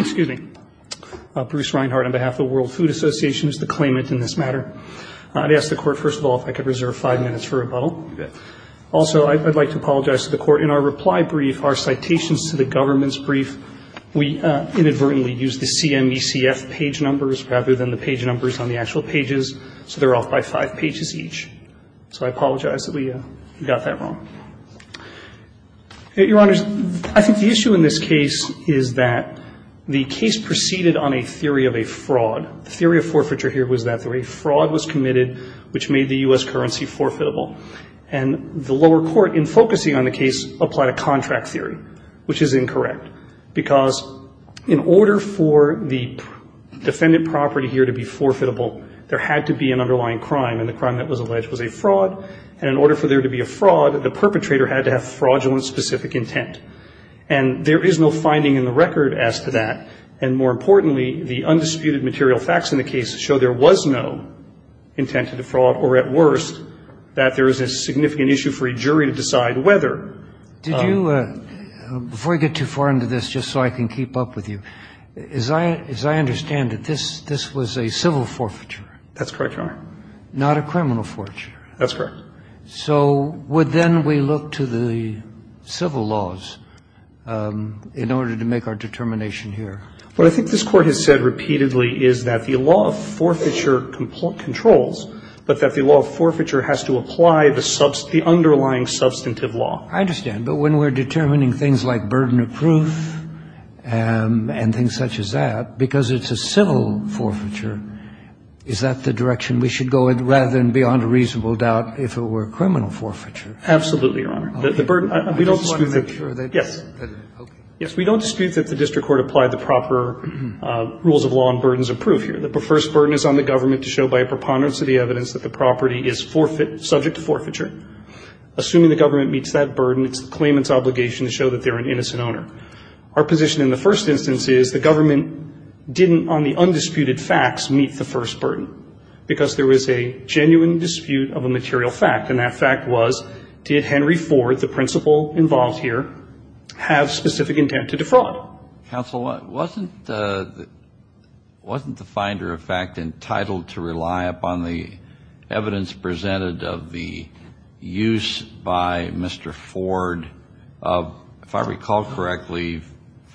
Excuse me. Bruce Reinhardt on behalf of the World Food Association is the claimant in this matter. I would ask the court, first of all, if I could reserve five minutes for rebuttal. Also, I would like to apologize to the court. In our reply brief, our citations to the government's brief, we inadvertently used the CMECF page numbers rather than the page numbers on the actual pages, so they're off by five pages each. So I apologize that we got that wrong. Your Honors, I think the issue in this case is that the case proceeded on a theory of a fraud. The theory of forfeiture here was that a fraud was committed, which made the U.S. currency forfeitable. And the lower court, in focusing on the case, applied a contract theory, which is incorrect, because in order for the defendant property here to be forfeitable, there had to be an underlying crime. And the crime that was alleged was a fraud. And in order for there to be a fraud, the perpetrator had to have fraudulent specific intent. And there is no finding in the record as to that. And more importantly, the undisputed material facts in the case show there was no intent to defraud or, at worst, that there is a significant issue for a jury to decide whether. Did you – before I get too far into this, just so I can keep up with you, as I understand it, this was a civil forfeiture. That's correct, Your Honor. Not a criminal forfeiture. That's correct. So would then we look to the civil laws in order to make our determination here? What I think this Court has said repeatedly is that the law of forfeiture controls, but that the law of forfeiture has to apply the underlying substantive law. I understand. But when we're determining things like burden of proof and things such as that, because it's a civil forfeiture, is that the direction we should go rather than beyond a reasonable doubt if it were a criminal forfeiture? Absolutely, Your Honor. The burden – we don't dispute that – yes. Okay. Yes, we don't dispute that the district court applied the proper rules of law on burdens of proof here. The first burden is on the government to show by a preponderance of the evidence that the property is forfeit – subject to forfeiture. Assuming the government meets that burden, it's the claimant's obligation to show that they're an innocent owner. Our position in the first instance is the government didn't, on the undisputed facts, meet the first burden, because there was a genuine dispute of a material fact, and that fact was, did Henry Ford, the principal involved here, have specific intent to defraud? Counsel, wasn't the finder of fact entitled to rely upon the evidence presented of the use by Mr. Ford of, if I recall correctly,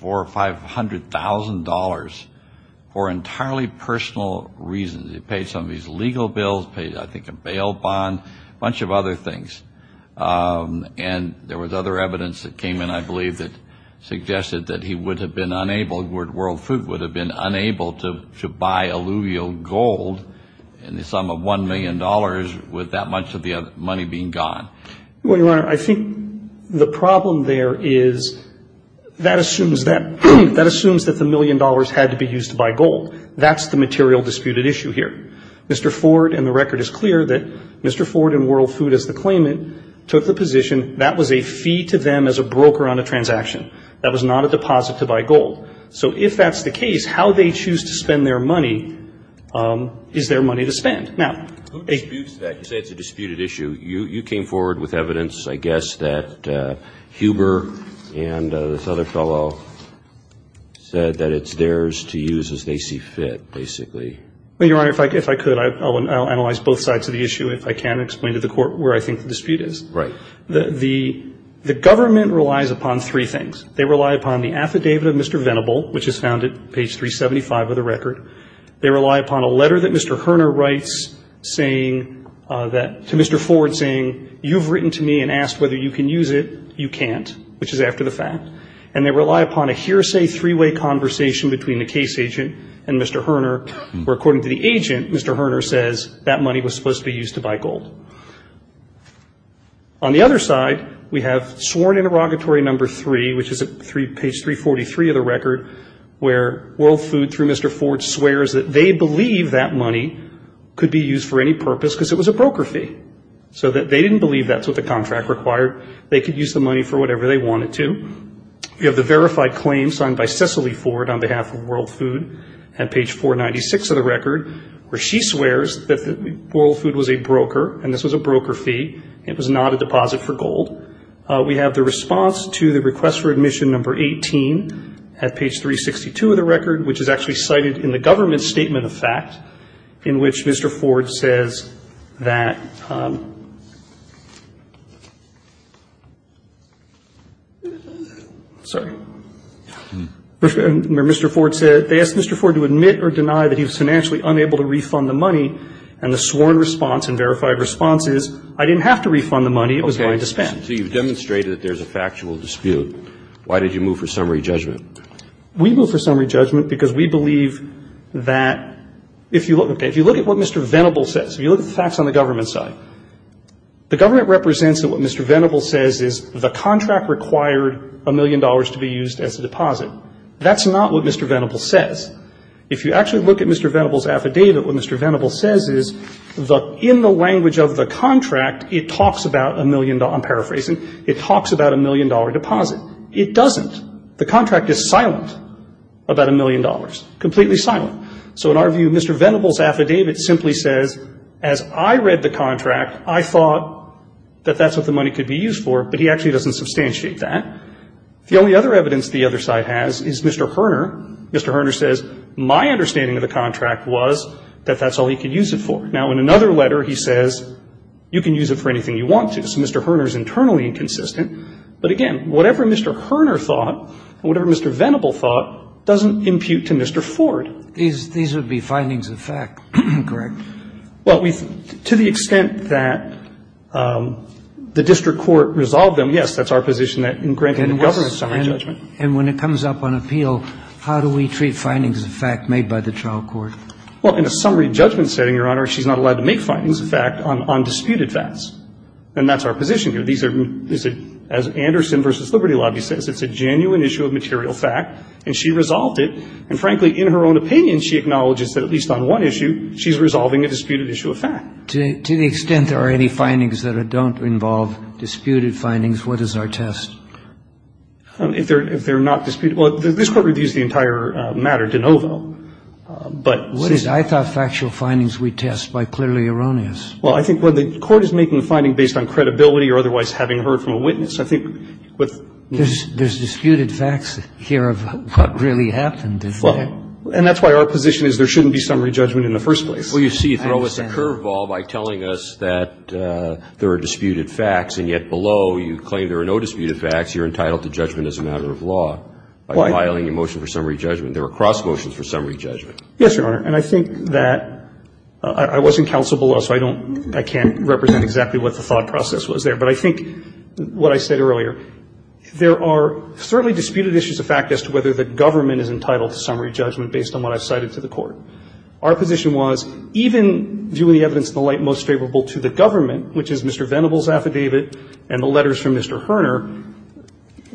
$400,000 or $500,000 for entirely personal reasons? He paid some of these legal bills, paid, I think, a bail bond, a bunch of other things. And there was other evidence that came in, I believe, that suggested that he would have been unable – that World Food would have been unable to buy alluvial gold in the sum of $1 million with that much of the money being gone. Well, Your Honor, I think the problem there is that assumes that the $1 million had to be used to buy gold. That's the material disputed issue here. Mr. Ford, and the record is clear, that Mr. Ford and World Food as the claimant took the position that was a fee to them as a broker on a transaction. That was not a deposit to buy gold. So if that's the case, how they choose to spend their money is their money to spend. Now, a – Who disputes that? You say it's a disputed issue. You came forward with evidence, I guess, that Huber and this other fellow said that it's theirs to use as they see fit, basically. Well, Your Honor, if I could, I'll analyze both sides of the issue, if I can, and explain to the Court where I think the dispute is. Right. The government relies upon three things. They rely upon the affidavit of Mr. Venable, which is found at page 375 of the record. They rely upon a letter that Mr. Horner writes saying that – to Mr. Ford saying, you've written to me and asked whether you can use it. You can't, which is after the fact. And they rely upon a hearsay three-way conversation between the case agent and Mr. Horner, where according to the agent, Mr. Horner says that money was supposed to be used to buy gold. On the other side, we have sworn interrogatory number three, which is at page 343 of the record, where World Food, through Mr. Ford, swears that they believe that money could be used for any purpose because it was a broker fee. So they didn't believe that's what the contract required. They could use the money for whatever they wanted to. We have the verified claim signed by Cecily Ford on behalf of World Food at page 496 of the record, where she swears that World Food was a broker and this was a broker fee. It was not a deposit for gold. We have the response to the request for admission number 18 at page 362 of the record, which is actually cited in the government statement of fact, in which Mr. Ford says that – sorry. Mr. Ford said they asked Mr. Ford to admit or deny that he was financially unable to refund the money, and the sworn response and verified response is, I didn't have to refund the money. It was mine to spend. So you've demonstrated that there's a factual dispute. Why did you move for summary judgment? We moved for summary judgment because we believe that if you look – okay. If you look at what Mr. Venable says, if you look at the facts on the government side, the government represents that what Mr. Venable says is the contract required a million dollars to be used as a deposit. That's not what Mr. Venable says. If you actually look at Mr. Venable's affidavit, what Mr. Venable says is in the language of the contract, it talks about a million – I'm paraphrasing. It talks about a million-dollar deposit. It doesn't. The contract is silent about a million dollars, completely silent. So in our view, Mr. Venable's affidavit simply says, as I read the contract, I thought that that's what the money could be used for, but he actually doesn't substantiate that. The only other evidence the other side has is Mr. Hoerner. Mr. Hoerner says, my understanding of the contract was that that's all he could use it for. Now, in another letter, he says, you can use it for anything you want to. So Mr. Hoerner is internally inconsistent. But again, whatever Mr. Hoerner thought and whatever Mr. Venable thought doesn't impute to Mr. Ford. These would be findings of fact, correct? Well, to the extent that the district court resolved them, yes, that's our position in granting a government summary judgment. And when it comes up on appeal, how do we treat findings of fact made by the trial court? Well, in a summary judgment setting, Your Honor, she's not allowed to make findings of fact on disputed facts. And that's our position here. These are, as Anderson v. Liberty Lobby says, it's a genuine issue of material fact, and she resolved it. And frankly, in her own opinion, she acknowledges that at least on one issue, she's resolving a disputed issue of fact. To the extent there are any findings that don't involve disputed findings, what is our test? If they're not disputed. Well, this Court reviews the entire matter de novo. What is it? I thought factual findings we test by clearly erroneous. Well, I think the Court is making the finding based on credibility or otherwise having heard from a witness. I think with no doubt. There's disputed facts here of what really happened, isn't there? Well, and that's why our position is there shouldn't be summary judgment in the first Well, you see, you throw us a curveball by telling us that there are disputed facts, and yet below you claim there are no disputed facts. You're entitled to judgment as a matter of law. Why? By filing a motion for summary judgment. There are cross motions for summary judgment. Yes, Your Honor. And I think that I was in counsel below, so I don't, I can't represent exactly what the thought process was there. But I think what I said earlier, there are certainly disputed issues of fact as to whether the government is entitled to summary judgment based on what I've cited to the Our position was even viewing the evidence in the light most favorable to the government, which is Mr. Venable's affidavit and the letters from Mr. Herner,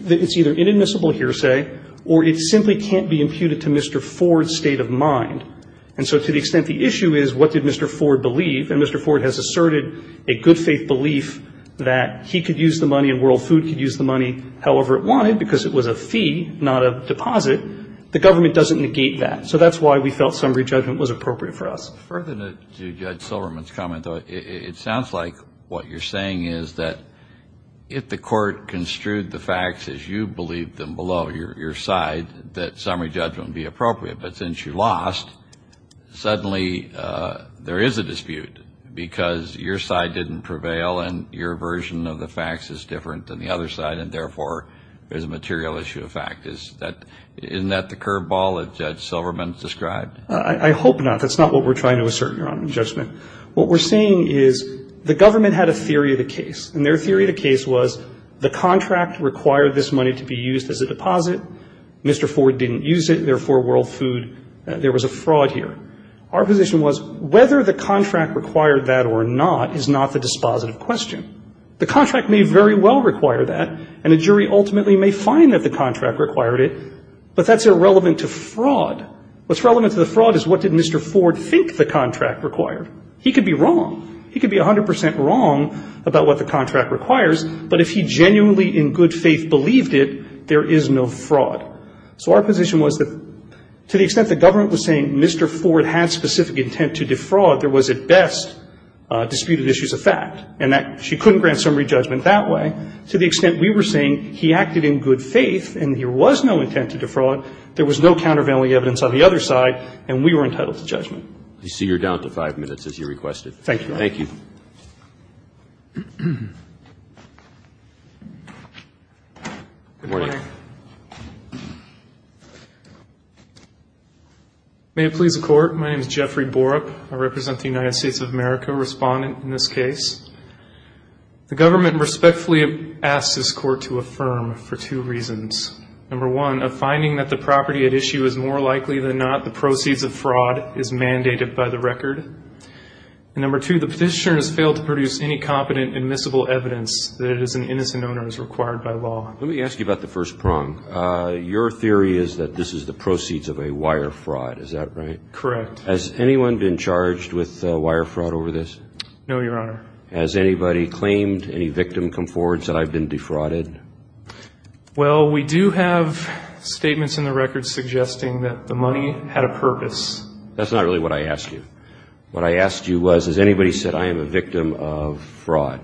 that it's either inadmissible hearsay or it simply can't be imputed to Mr. Ford's state of mind. And so to the extent the issue is what did Mr. Ford believe, and Mr. Ford has asserted a good faith belief that he could use the money and World Food could use the money however it wanted because it was a fee, not a deposit, the government doesn't negate that. So that's why we felt summary judgment was appropriate for us. Further to Judge Silverman's comment, though, it sounds like what you're saying is that if the court construed the facts as you believed them below your side, that summary judgment would be appropriate. But since you lost, suddenly there is a dispute because your side didn't prevail and your version of the facts is different than the other side, and therefore there's a material issue of fact. Isn't that the curveball that Judge Silverman described? I hope not. That's not what we're trying to assert, Your Honor, in judgment. What we're saying is the government had a theory of the case, and their theory of the case was the contract required this money to be used as a deposit. Mr. Ford didn't use it. Therefore, World Food, there was a fraud here. Our position was whether the contract required that or not is not the dispositive question. The contract may very well require that, and a jury ultimately may find that the contract required it, but that's irrelevant to fraud. What's relevant to the fraud is what did Mr. Ford think the contract required. He could be wrong. He could be 100 percent wrong about what the contract requires, but if he genuinely in good faith believed it, there is no fraud. So our position was that to the extent the government was saying Mr. Ford had specific intent to defraud, there was at best disputed issues of fact, and that she couldn't grant summary judgment that way. To the extent we were saying he acted in good faith and there was no intent to defraud, there was no countervailing evidence on the other side, and we were entitled to judgment. I see you're down to five minutes as you requested. Thank you, Your Honor. Thank you. Good morning. May it please the Court. My name is Jeffrey Borup. I represent the United States of America, a respondent in this case. The government respectfully asks this Court to affirm for two reasons. Number one, a finding that the property at issue is more likely than not the proceeds of fraud is mandated by the record. And number two, the petitioner has failed to produce any competent admissible evidence that it is an innocent owner as required by law. Let me ask you about the first prong. Your theory is that this is the proceeds of a wire fraud, is that right? Correct. Has anyone been charged with wire fraud over this? No, Your Honor. Has anybody claimed, any victim come forward and said, I've been defrauded? Well, we do have statements in the record suggesting that the money had a purpose. That's not really what I asked you. What I asked you was, has anybody said, I am a victim of fraud?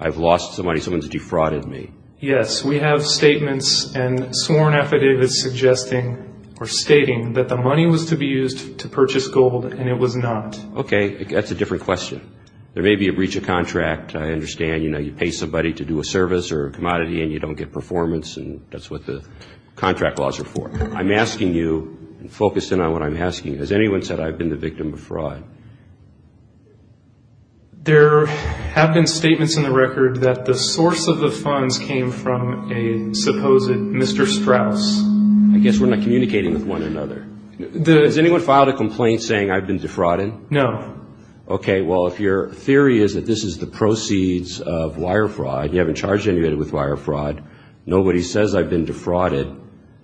I've lost some money, someone's defrauded me. Yes, we have statements and sworn affidavits suggesting or stating that the money was to be used to purchase gold, and it was not. Okay, that's a different question. There may be a breach of contract. I understand, you know, you pay somebody to do a service or a commodity and you don't get performance, and that's what the contract laws are for. I'm asking you, and focusing on what I'm asking, has anyone said, I've been the victim of fraud? There have been statements in the record that the source of the funds came from a supposed Mr. Strauss. I guess we're not communicating with one another. Has anyone filed a complaint saying, I've been defrauded? No. Okay, well, if your theory is that this is the proceeds of wire fraud, you haven't charged anybody with wire fraud, nobody says I've been defrauded,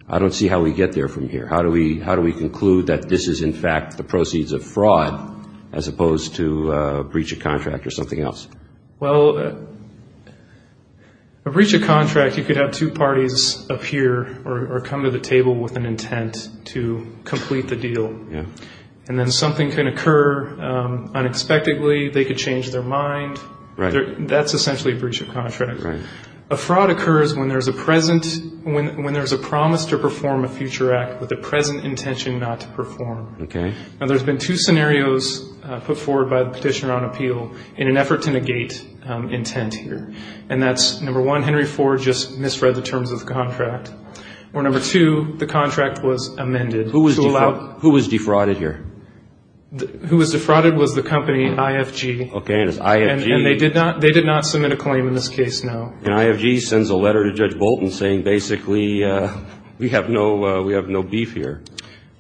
I don't see how we get there from here. How do we conclude that this is, in fact, the proceeds of fraud as opposed to a breach of contract or something else? Well, a breach of contract, you could have two parties appear or come to the table with an intent to complete the deal. And then something can occur unexpectedly. They could change their mind. That's essentially a breach of contract. A fraud occurs when there's a promise to perform a future act with a present intention not to perform. Okay. Now, there's been two scenarios put forward by the petitioner on appeal in an effort to negate intent here. And that's, number one, Henry Ford just misread the terms of the contract. Or number two, the contract was amended. Who was defrauded? Who was defrauded here? Who was defrauded was the company IFG. Okay, and it's IFG. And they did not submit a claim in this case, no. And IFG sends a letter to Judge Bolton saying basically we have no beef here.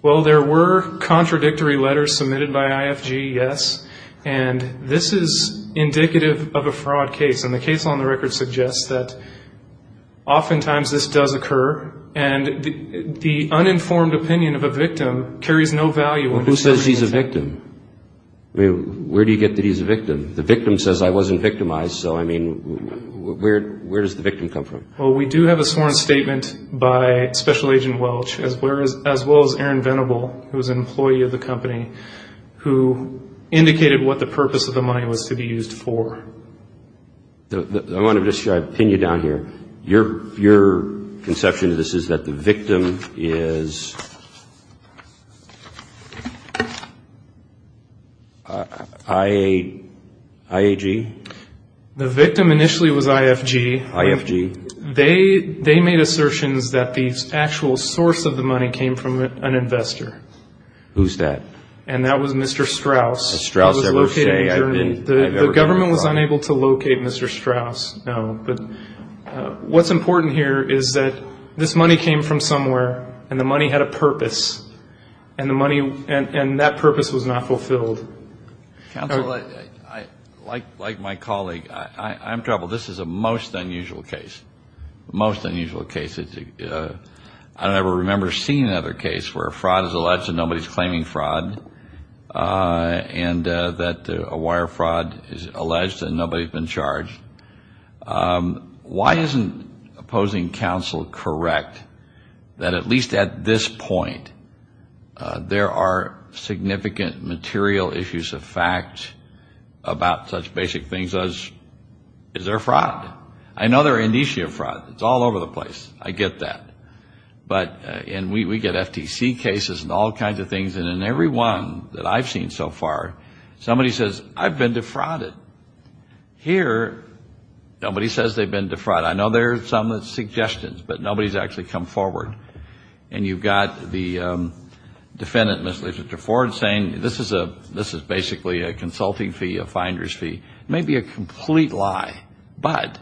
Well, there were contradictory letters submitted by IFG, yes. And this is indicative of a fraud case. And the case on the record suggests that oftentimes this does occur. And the uninformed opinion of a victim carries no value. Who says he's a victim? I mean, where do you get that he's a victim? The victim says I wasn't victimized, so, I mean, where does the victim come from? Well, we do have a sworn statement by Special Agent Welch, as well as Aaron Venable, who was an employee of the company, who indicated what the purpose of the money was to be used for. I want to pin you down here. Your conception of this is that the victim is IAG? The victim initially was IFG. IFG. They made assertions that the actual source of the money came from an investor. Who's that? And that was Mr. Strauss. Has Strauss ever said he had been? The government was unable to locate Mr. Strauss, no. But what's important here is that this money came from somewhere, and the money had a purpose, and that purpose was not fulfilled. Counsel, like my colleague, I'm troubled. This is a most unusual case, most unusual case. I don't ever remember seeing another case where fraud is alleged and nobody's claiming fraud, and that a wire fraud is alleged and nobody's been charged. Why isn't opposing counsel correct that at least at this point there are significant material issues of fact about such basic things as, is there fraud? I know there are an issue of fraud. It's all over the place. I get that. And we get FTC cases and all kinds of things, and in every one that I've seen so far, somebody says, I've been defrauded. Here, nobody says they've been defrauded. I know there are some suggestions, but nobody's actually come forward. And you've got the defendant, Mr. Ford, saying this is basically a consulting fee, a finder's fee. It may be a complete lie, but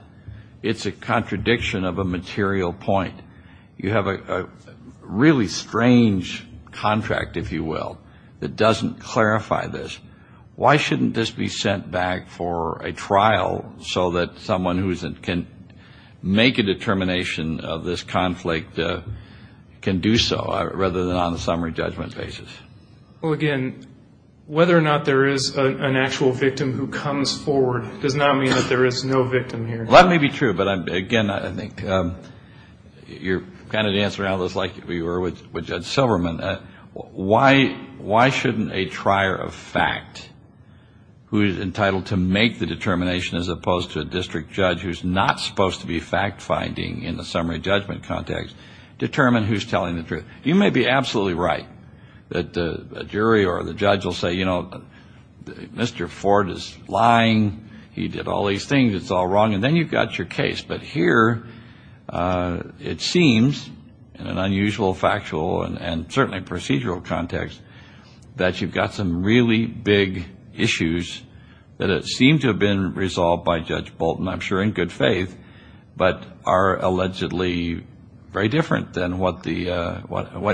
it's a contradiction of a material point. You have a really strange contract, if you will, that doesn't clarify this. Why shouldn't this be sent back for a trial so that someone who can make a determination of this conflict can do so, rather than on a summary judgment basis? Well, again, whether or not there is an actual victim who comes forward does not mean that there is no victim here. Well, that may be true, but, again, I think you're kind of dancing around this like we were with Judge Silverman. Why shouldn't a trier of fact who is entitled to make the determination as opposed to a district judge who's not supposed to be fact-finding in the summary judgment context determine who's telling the truth? You may be absolutely right that a jury or the judge will say, you know, Mr. Ford is lying. He did all these things. It's all wrong, and then you've got your case. But here it seems, in an unusual factual and certainly procedural context, that you've got some really big issues that seem to have been resolved by Judge Bolton, I'm sure in good faith, but are allegedly very different than what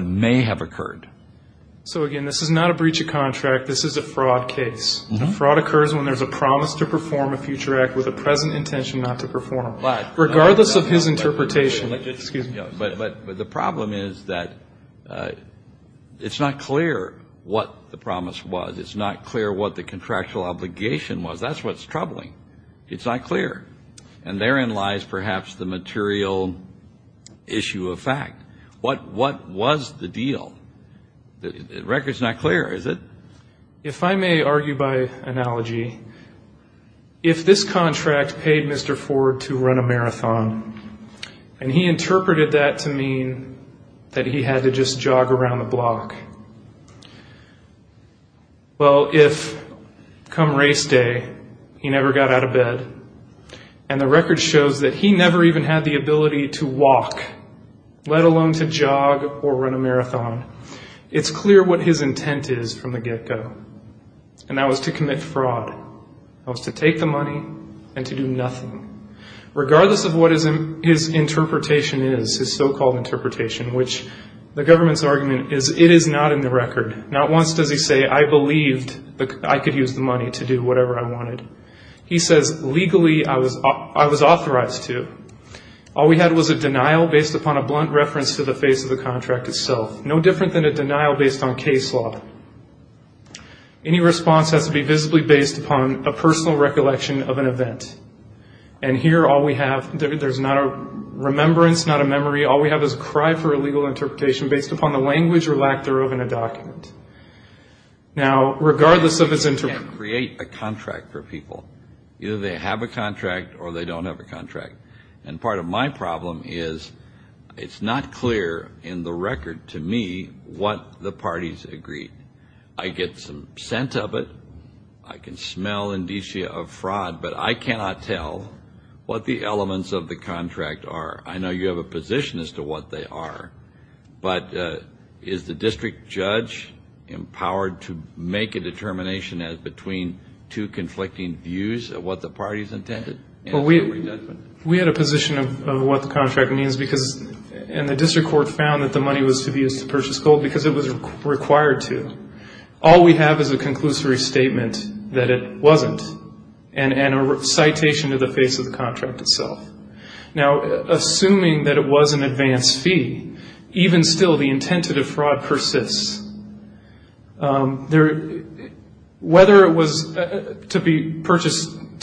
may have occurred. So, again, this is not a breach of contract. This is a fraud case. Fraud occurs when there's a promise to perform a future act with a present intention not to perform, regardless of his interpretation. Excuse me. But the problem is that it's not clear what the promise was. It's not clear what the contractual obligation was. That's what's troubling. It's not clear. And therein lies perhaps the material issue of fact. What was the deal? The record's not clear, is it? If I may argue by analogy, if this contract paid Mr. Ford to run a marathon and he interpreted that to mean that he had to just jog around the block, well, if come race day he never got out of bed and the record shows that he never even had the ability to walk, let alone to jog or run a marathon, it's clear what his intent is from the get-go. And that was to commit fraud. That was to take the money and to do nothing, regardless of what his interpretation is, his so-called interpretation, which the government's argument is it is not in the record. Not once does he say, I believed I could use the money to do whatever I wanted. He says, legally, I was authorized to. All we had was a denial based upon a blunt reference to the face of the contract itself. No different than a denial based on case law. Any response has to be visibly based upon a personal recollection of an event. And here all we have, there's not a remembrance, not a memory. All we have is a cry for a legal interpretation based upon the language or lack thereof in a document. Now, regardless of his interpretation. You can't create a contract for people. Either they have a contract or they don't have a contract. And part of my problem is it's not clear in the record to me what the parties agreed. I get some scent of it. I can smell indicia of fraud. But I cannot tell what the elements of the contract are. I know you have a position as to what they are. But is the district judge empowered to make a determination between two conflicting views of what the parties intended? We had a position of what the contract means. And the district court found that the money was to be used to purchase gold because it was required to. All we have is a conclusory statement that it wasn't. And a citation to the face of the contract itself. Now, assuming that it was an advance fee, even still the intent to defraud persists. Whether it was to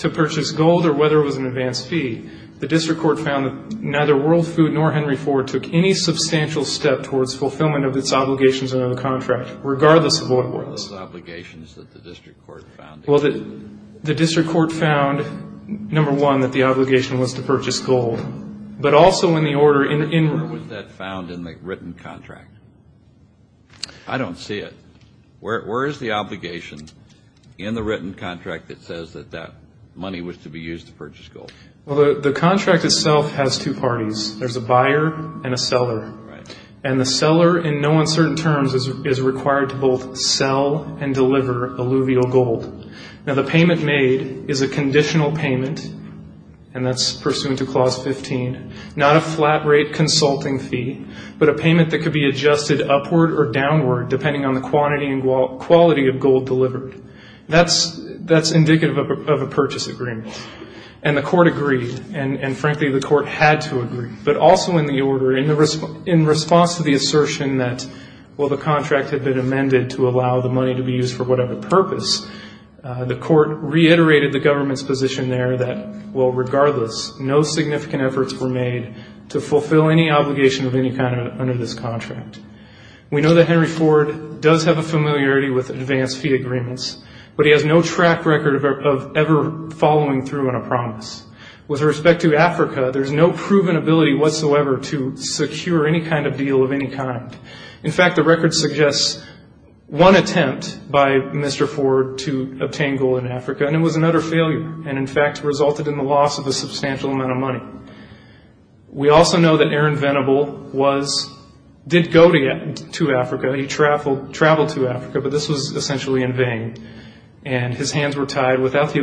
purchase gold or whether it was an advance fee, the district court found that neither World Food nor Henry Ford took any substantial step towards fulfillment of its obligations under the contract, regardless of what it was. Regardless of the obligations that the district court found. Well, the district court found, number one, that the obligation was to purchase gold. But also in the order in which that found in the written contract. I don't see it. Where is the obligation in the written contract that says that that money was to be used to purchase gold? Well, the contract itself has two parties. There's a buyer and a seller. And the seller, in no uncertain terms, is required to both sell and deliver alluvial gold. Now, the payment made is a conditional payment, and that's pursuant to Clause 15. Not a flat rate consulting fee, but a payment that could be adjusted upward or downward, depending on the quantity and quality of gold delivered. That's indicative of a purchase agreement. And the court agreed. And, frankly, the court had to agree. But also in the order, in response to the assertion that, well, the contract had been amended to allow the money to be used for whatever purpose, the court reiterated the government's position there that, well, regardless, no significant efforts were made to fulfill any obligation of any kind under this contract. We know that Henry Ford does have a familiarity with advance fee agreements, but he has no track record of ever following through on a promise. With respect to Africa, there's no proven ability whatsoever to secure any kind of deal of any kind. In fact, the record suggests one attempt by Mr. Ford to obtain gold in Africa, and it was another failure and, in fact, resulted in the loss of a substantial amount of money. We also know that Aaron Venable did go to Africa. He traveled to Africa, but this was essentially in vain, and his hands were tied. Without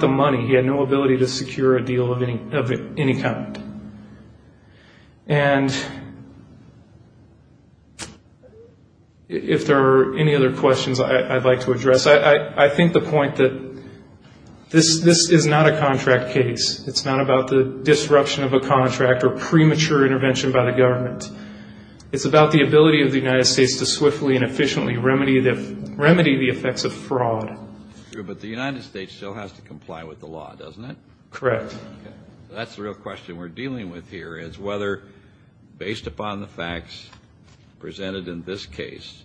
the money, he had no ability to secure a deal of any kind. And if there are any other questions I'd like to address, I think the point that this is not a contract case. It's not about the disruption of a contract or premature intervention by the government. It's about the ability of the United States to swiftly and efficiently remedy the effects of fraud. But the United States still has to comply with the law, doesn't it? Correct. That's the real question we're dealing with here is whether, based upon the facts presented in this case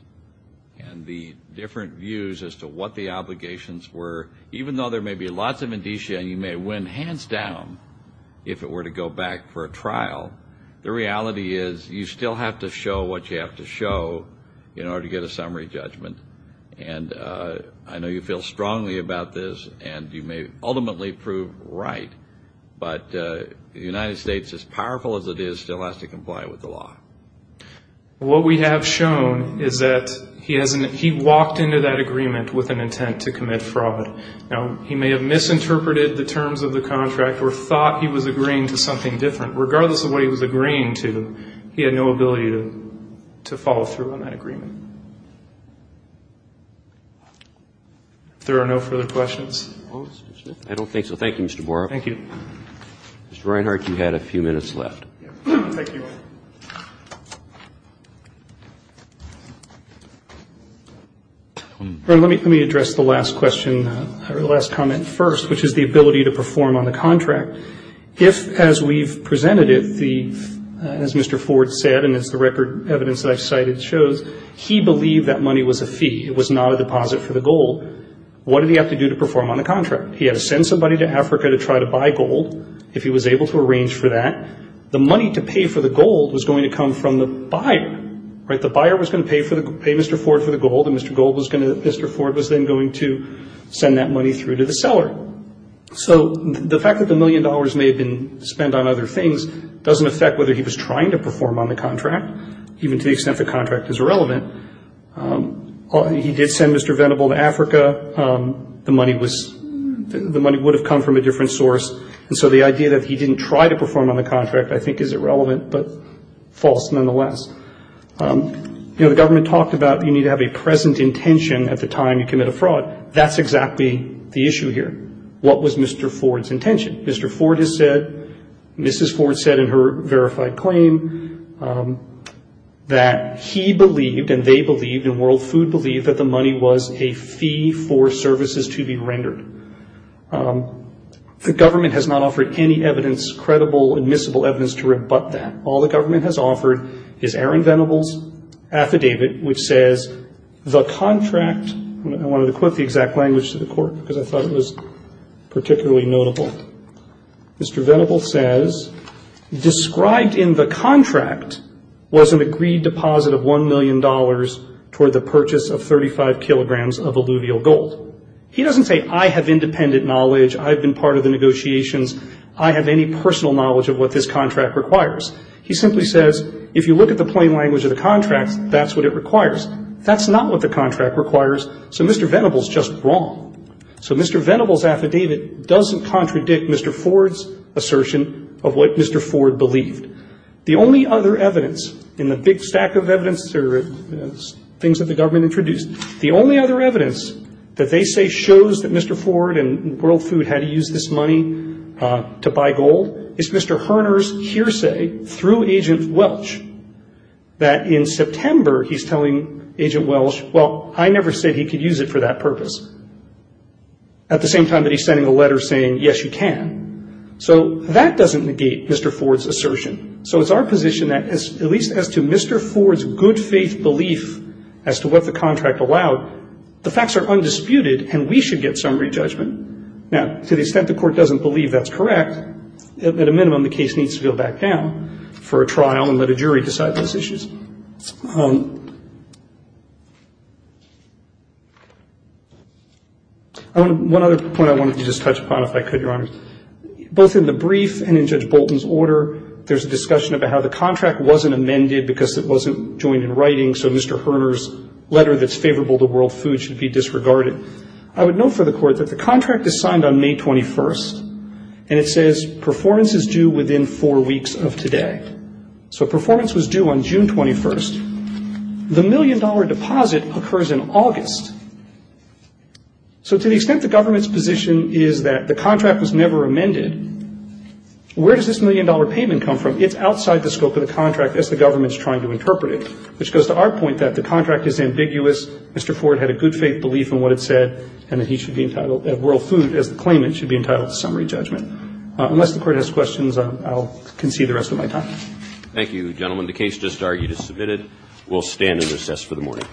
and the different views as to what the obligations were, even though there may be lots of indicia and you may win hands down if it were to go back for a trial, the reality is you still have to show what you have to show in order to get a summary judgment. And I know you feel strongly about this, and you may ultimately prove right, but the United States, as powerful as it is, still has to comply with the law. What we have shown is that he walked into that agreement with an intent to commit fraud. Now, he may have misinterpreted the terms of the contract or thought he was agreeing to something different. But regardless of what he was agreeing to, he had no ability to follow through on that agreement. If there are no further questions. I don't think so. Thank you, Mr. Boroff. Thank you. Mr. Reinhart, you had a few minutes left. Thank you. Let me address the last question or the last comment first, which is the ability to perform on the contract. If, as we've presented it, as Mr. Ford said and as the record evidence that I've cited shows, he believed that money was a fee, it was not a deposit for the gold, what did he have to do to perform on the contract? He had to send somebody to Africa to try to buy gold, if he was able to arrange for that. The money to pay for the gold was going to come from the buyer. The buyer was going to pay Mr. Ford for the gold, and Mr. Ford was then going to send that money through to the seller. So the fact that the $1 million may have been spent on other things doesn't affect whether he was trying to perform on the contract, even to the extent the contract is irrelevant. He did send Mr. Venable to Africa. The money would have come from a different source, and so the idea that he didn't try to perform on the contract I think is irrelevant but false nonetheless. The government talked about you need to have a present intention at the time you commit a fraud. That's exactly the issue here. What was Mr. Ford's intention? Mr. Ford has said, Mrs. Ford said in her verified claim that he believed and they believed and World Food believed that the money was a fee for services to be rendered. The government has not offered any evidence, credible, admissible evidence to rebut that. All the government has offered is Aaron Venable's affidavit which says the contract, I wanted to quote the exact language to the court because I thought it was particularly notable. Mr. Venable says, described in the contract was an agreed deposit of $1 million toward the purchase of 35 kilograms of alluvial gold. He doesn't say I have independent knowledge, I've been part of the negotiations, I have any personal knowledge of what this contract requires. He simply says if you look at the plain language of the contract, that's what it requires. That's not what the contract requires. So Mr. Venable is just wrong. So Mr. Venable's affidavit doesn't contradict Mr. Ford's assertion of what Mr. Ford believed. The only other evidence in the big stack of evidence, things that the government introduced, the only other evidence that they say shows that Mr. Ford and World Food had to use this money to buy gold, is Mr. Herner's hearsay through Agent Welch that in September he's telling Agent Welch, well, I never said he could use it for that purpose. At the same time that he's sending a letter saying, yes, you can. So that doesn't negate Mr. Ford's assertion. So it's our position that at least as to Mr. Ford's good faith belief as to what the contract allowed, the facts are undisputed and we should get summary judgment. Now, to the extent the Court doesn't believe that's correct, at a minimum, the case needs to go back down for a trial and let a jury decide those issues. One other point I wanted to just touch upon, if I could, Your Honor. Both in the brief and in Judge Bolton's order, there's a discussion about how the contract wasn't amended because it wasn't joined in writing, so Mr. Herner's letter that's favorable to World Food should be disregarded. I would note for the Court that the contract is signed on May 21st, and it says performance is due within four weeks of today. So performance was due on June 21st. The million-dollar deposit occurs in August. So to the extent the government's position is that the contract was never amended, where does this million-dollar payment come from? It's outside the scope of the contract as the government's trying to interpret it, which goes to our point that the contract is ambiguous. Mr. Ford had a good faith belief in what it said, and that he should be entitled at World Food, as the claimant, should be entitled to summary judgment. Unless the Court has questions, I'll concede the rest of my time. Thank you, gentlemen. The case just argued is submitted. We'll stand and recess for the morning.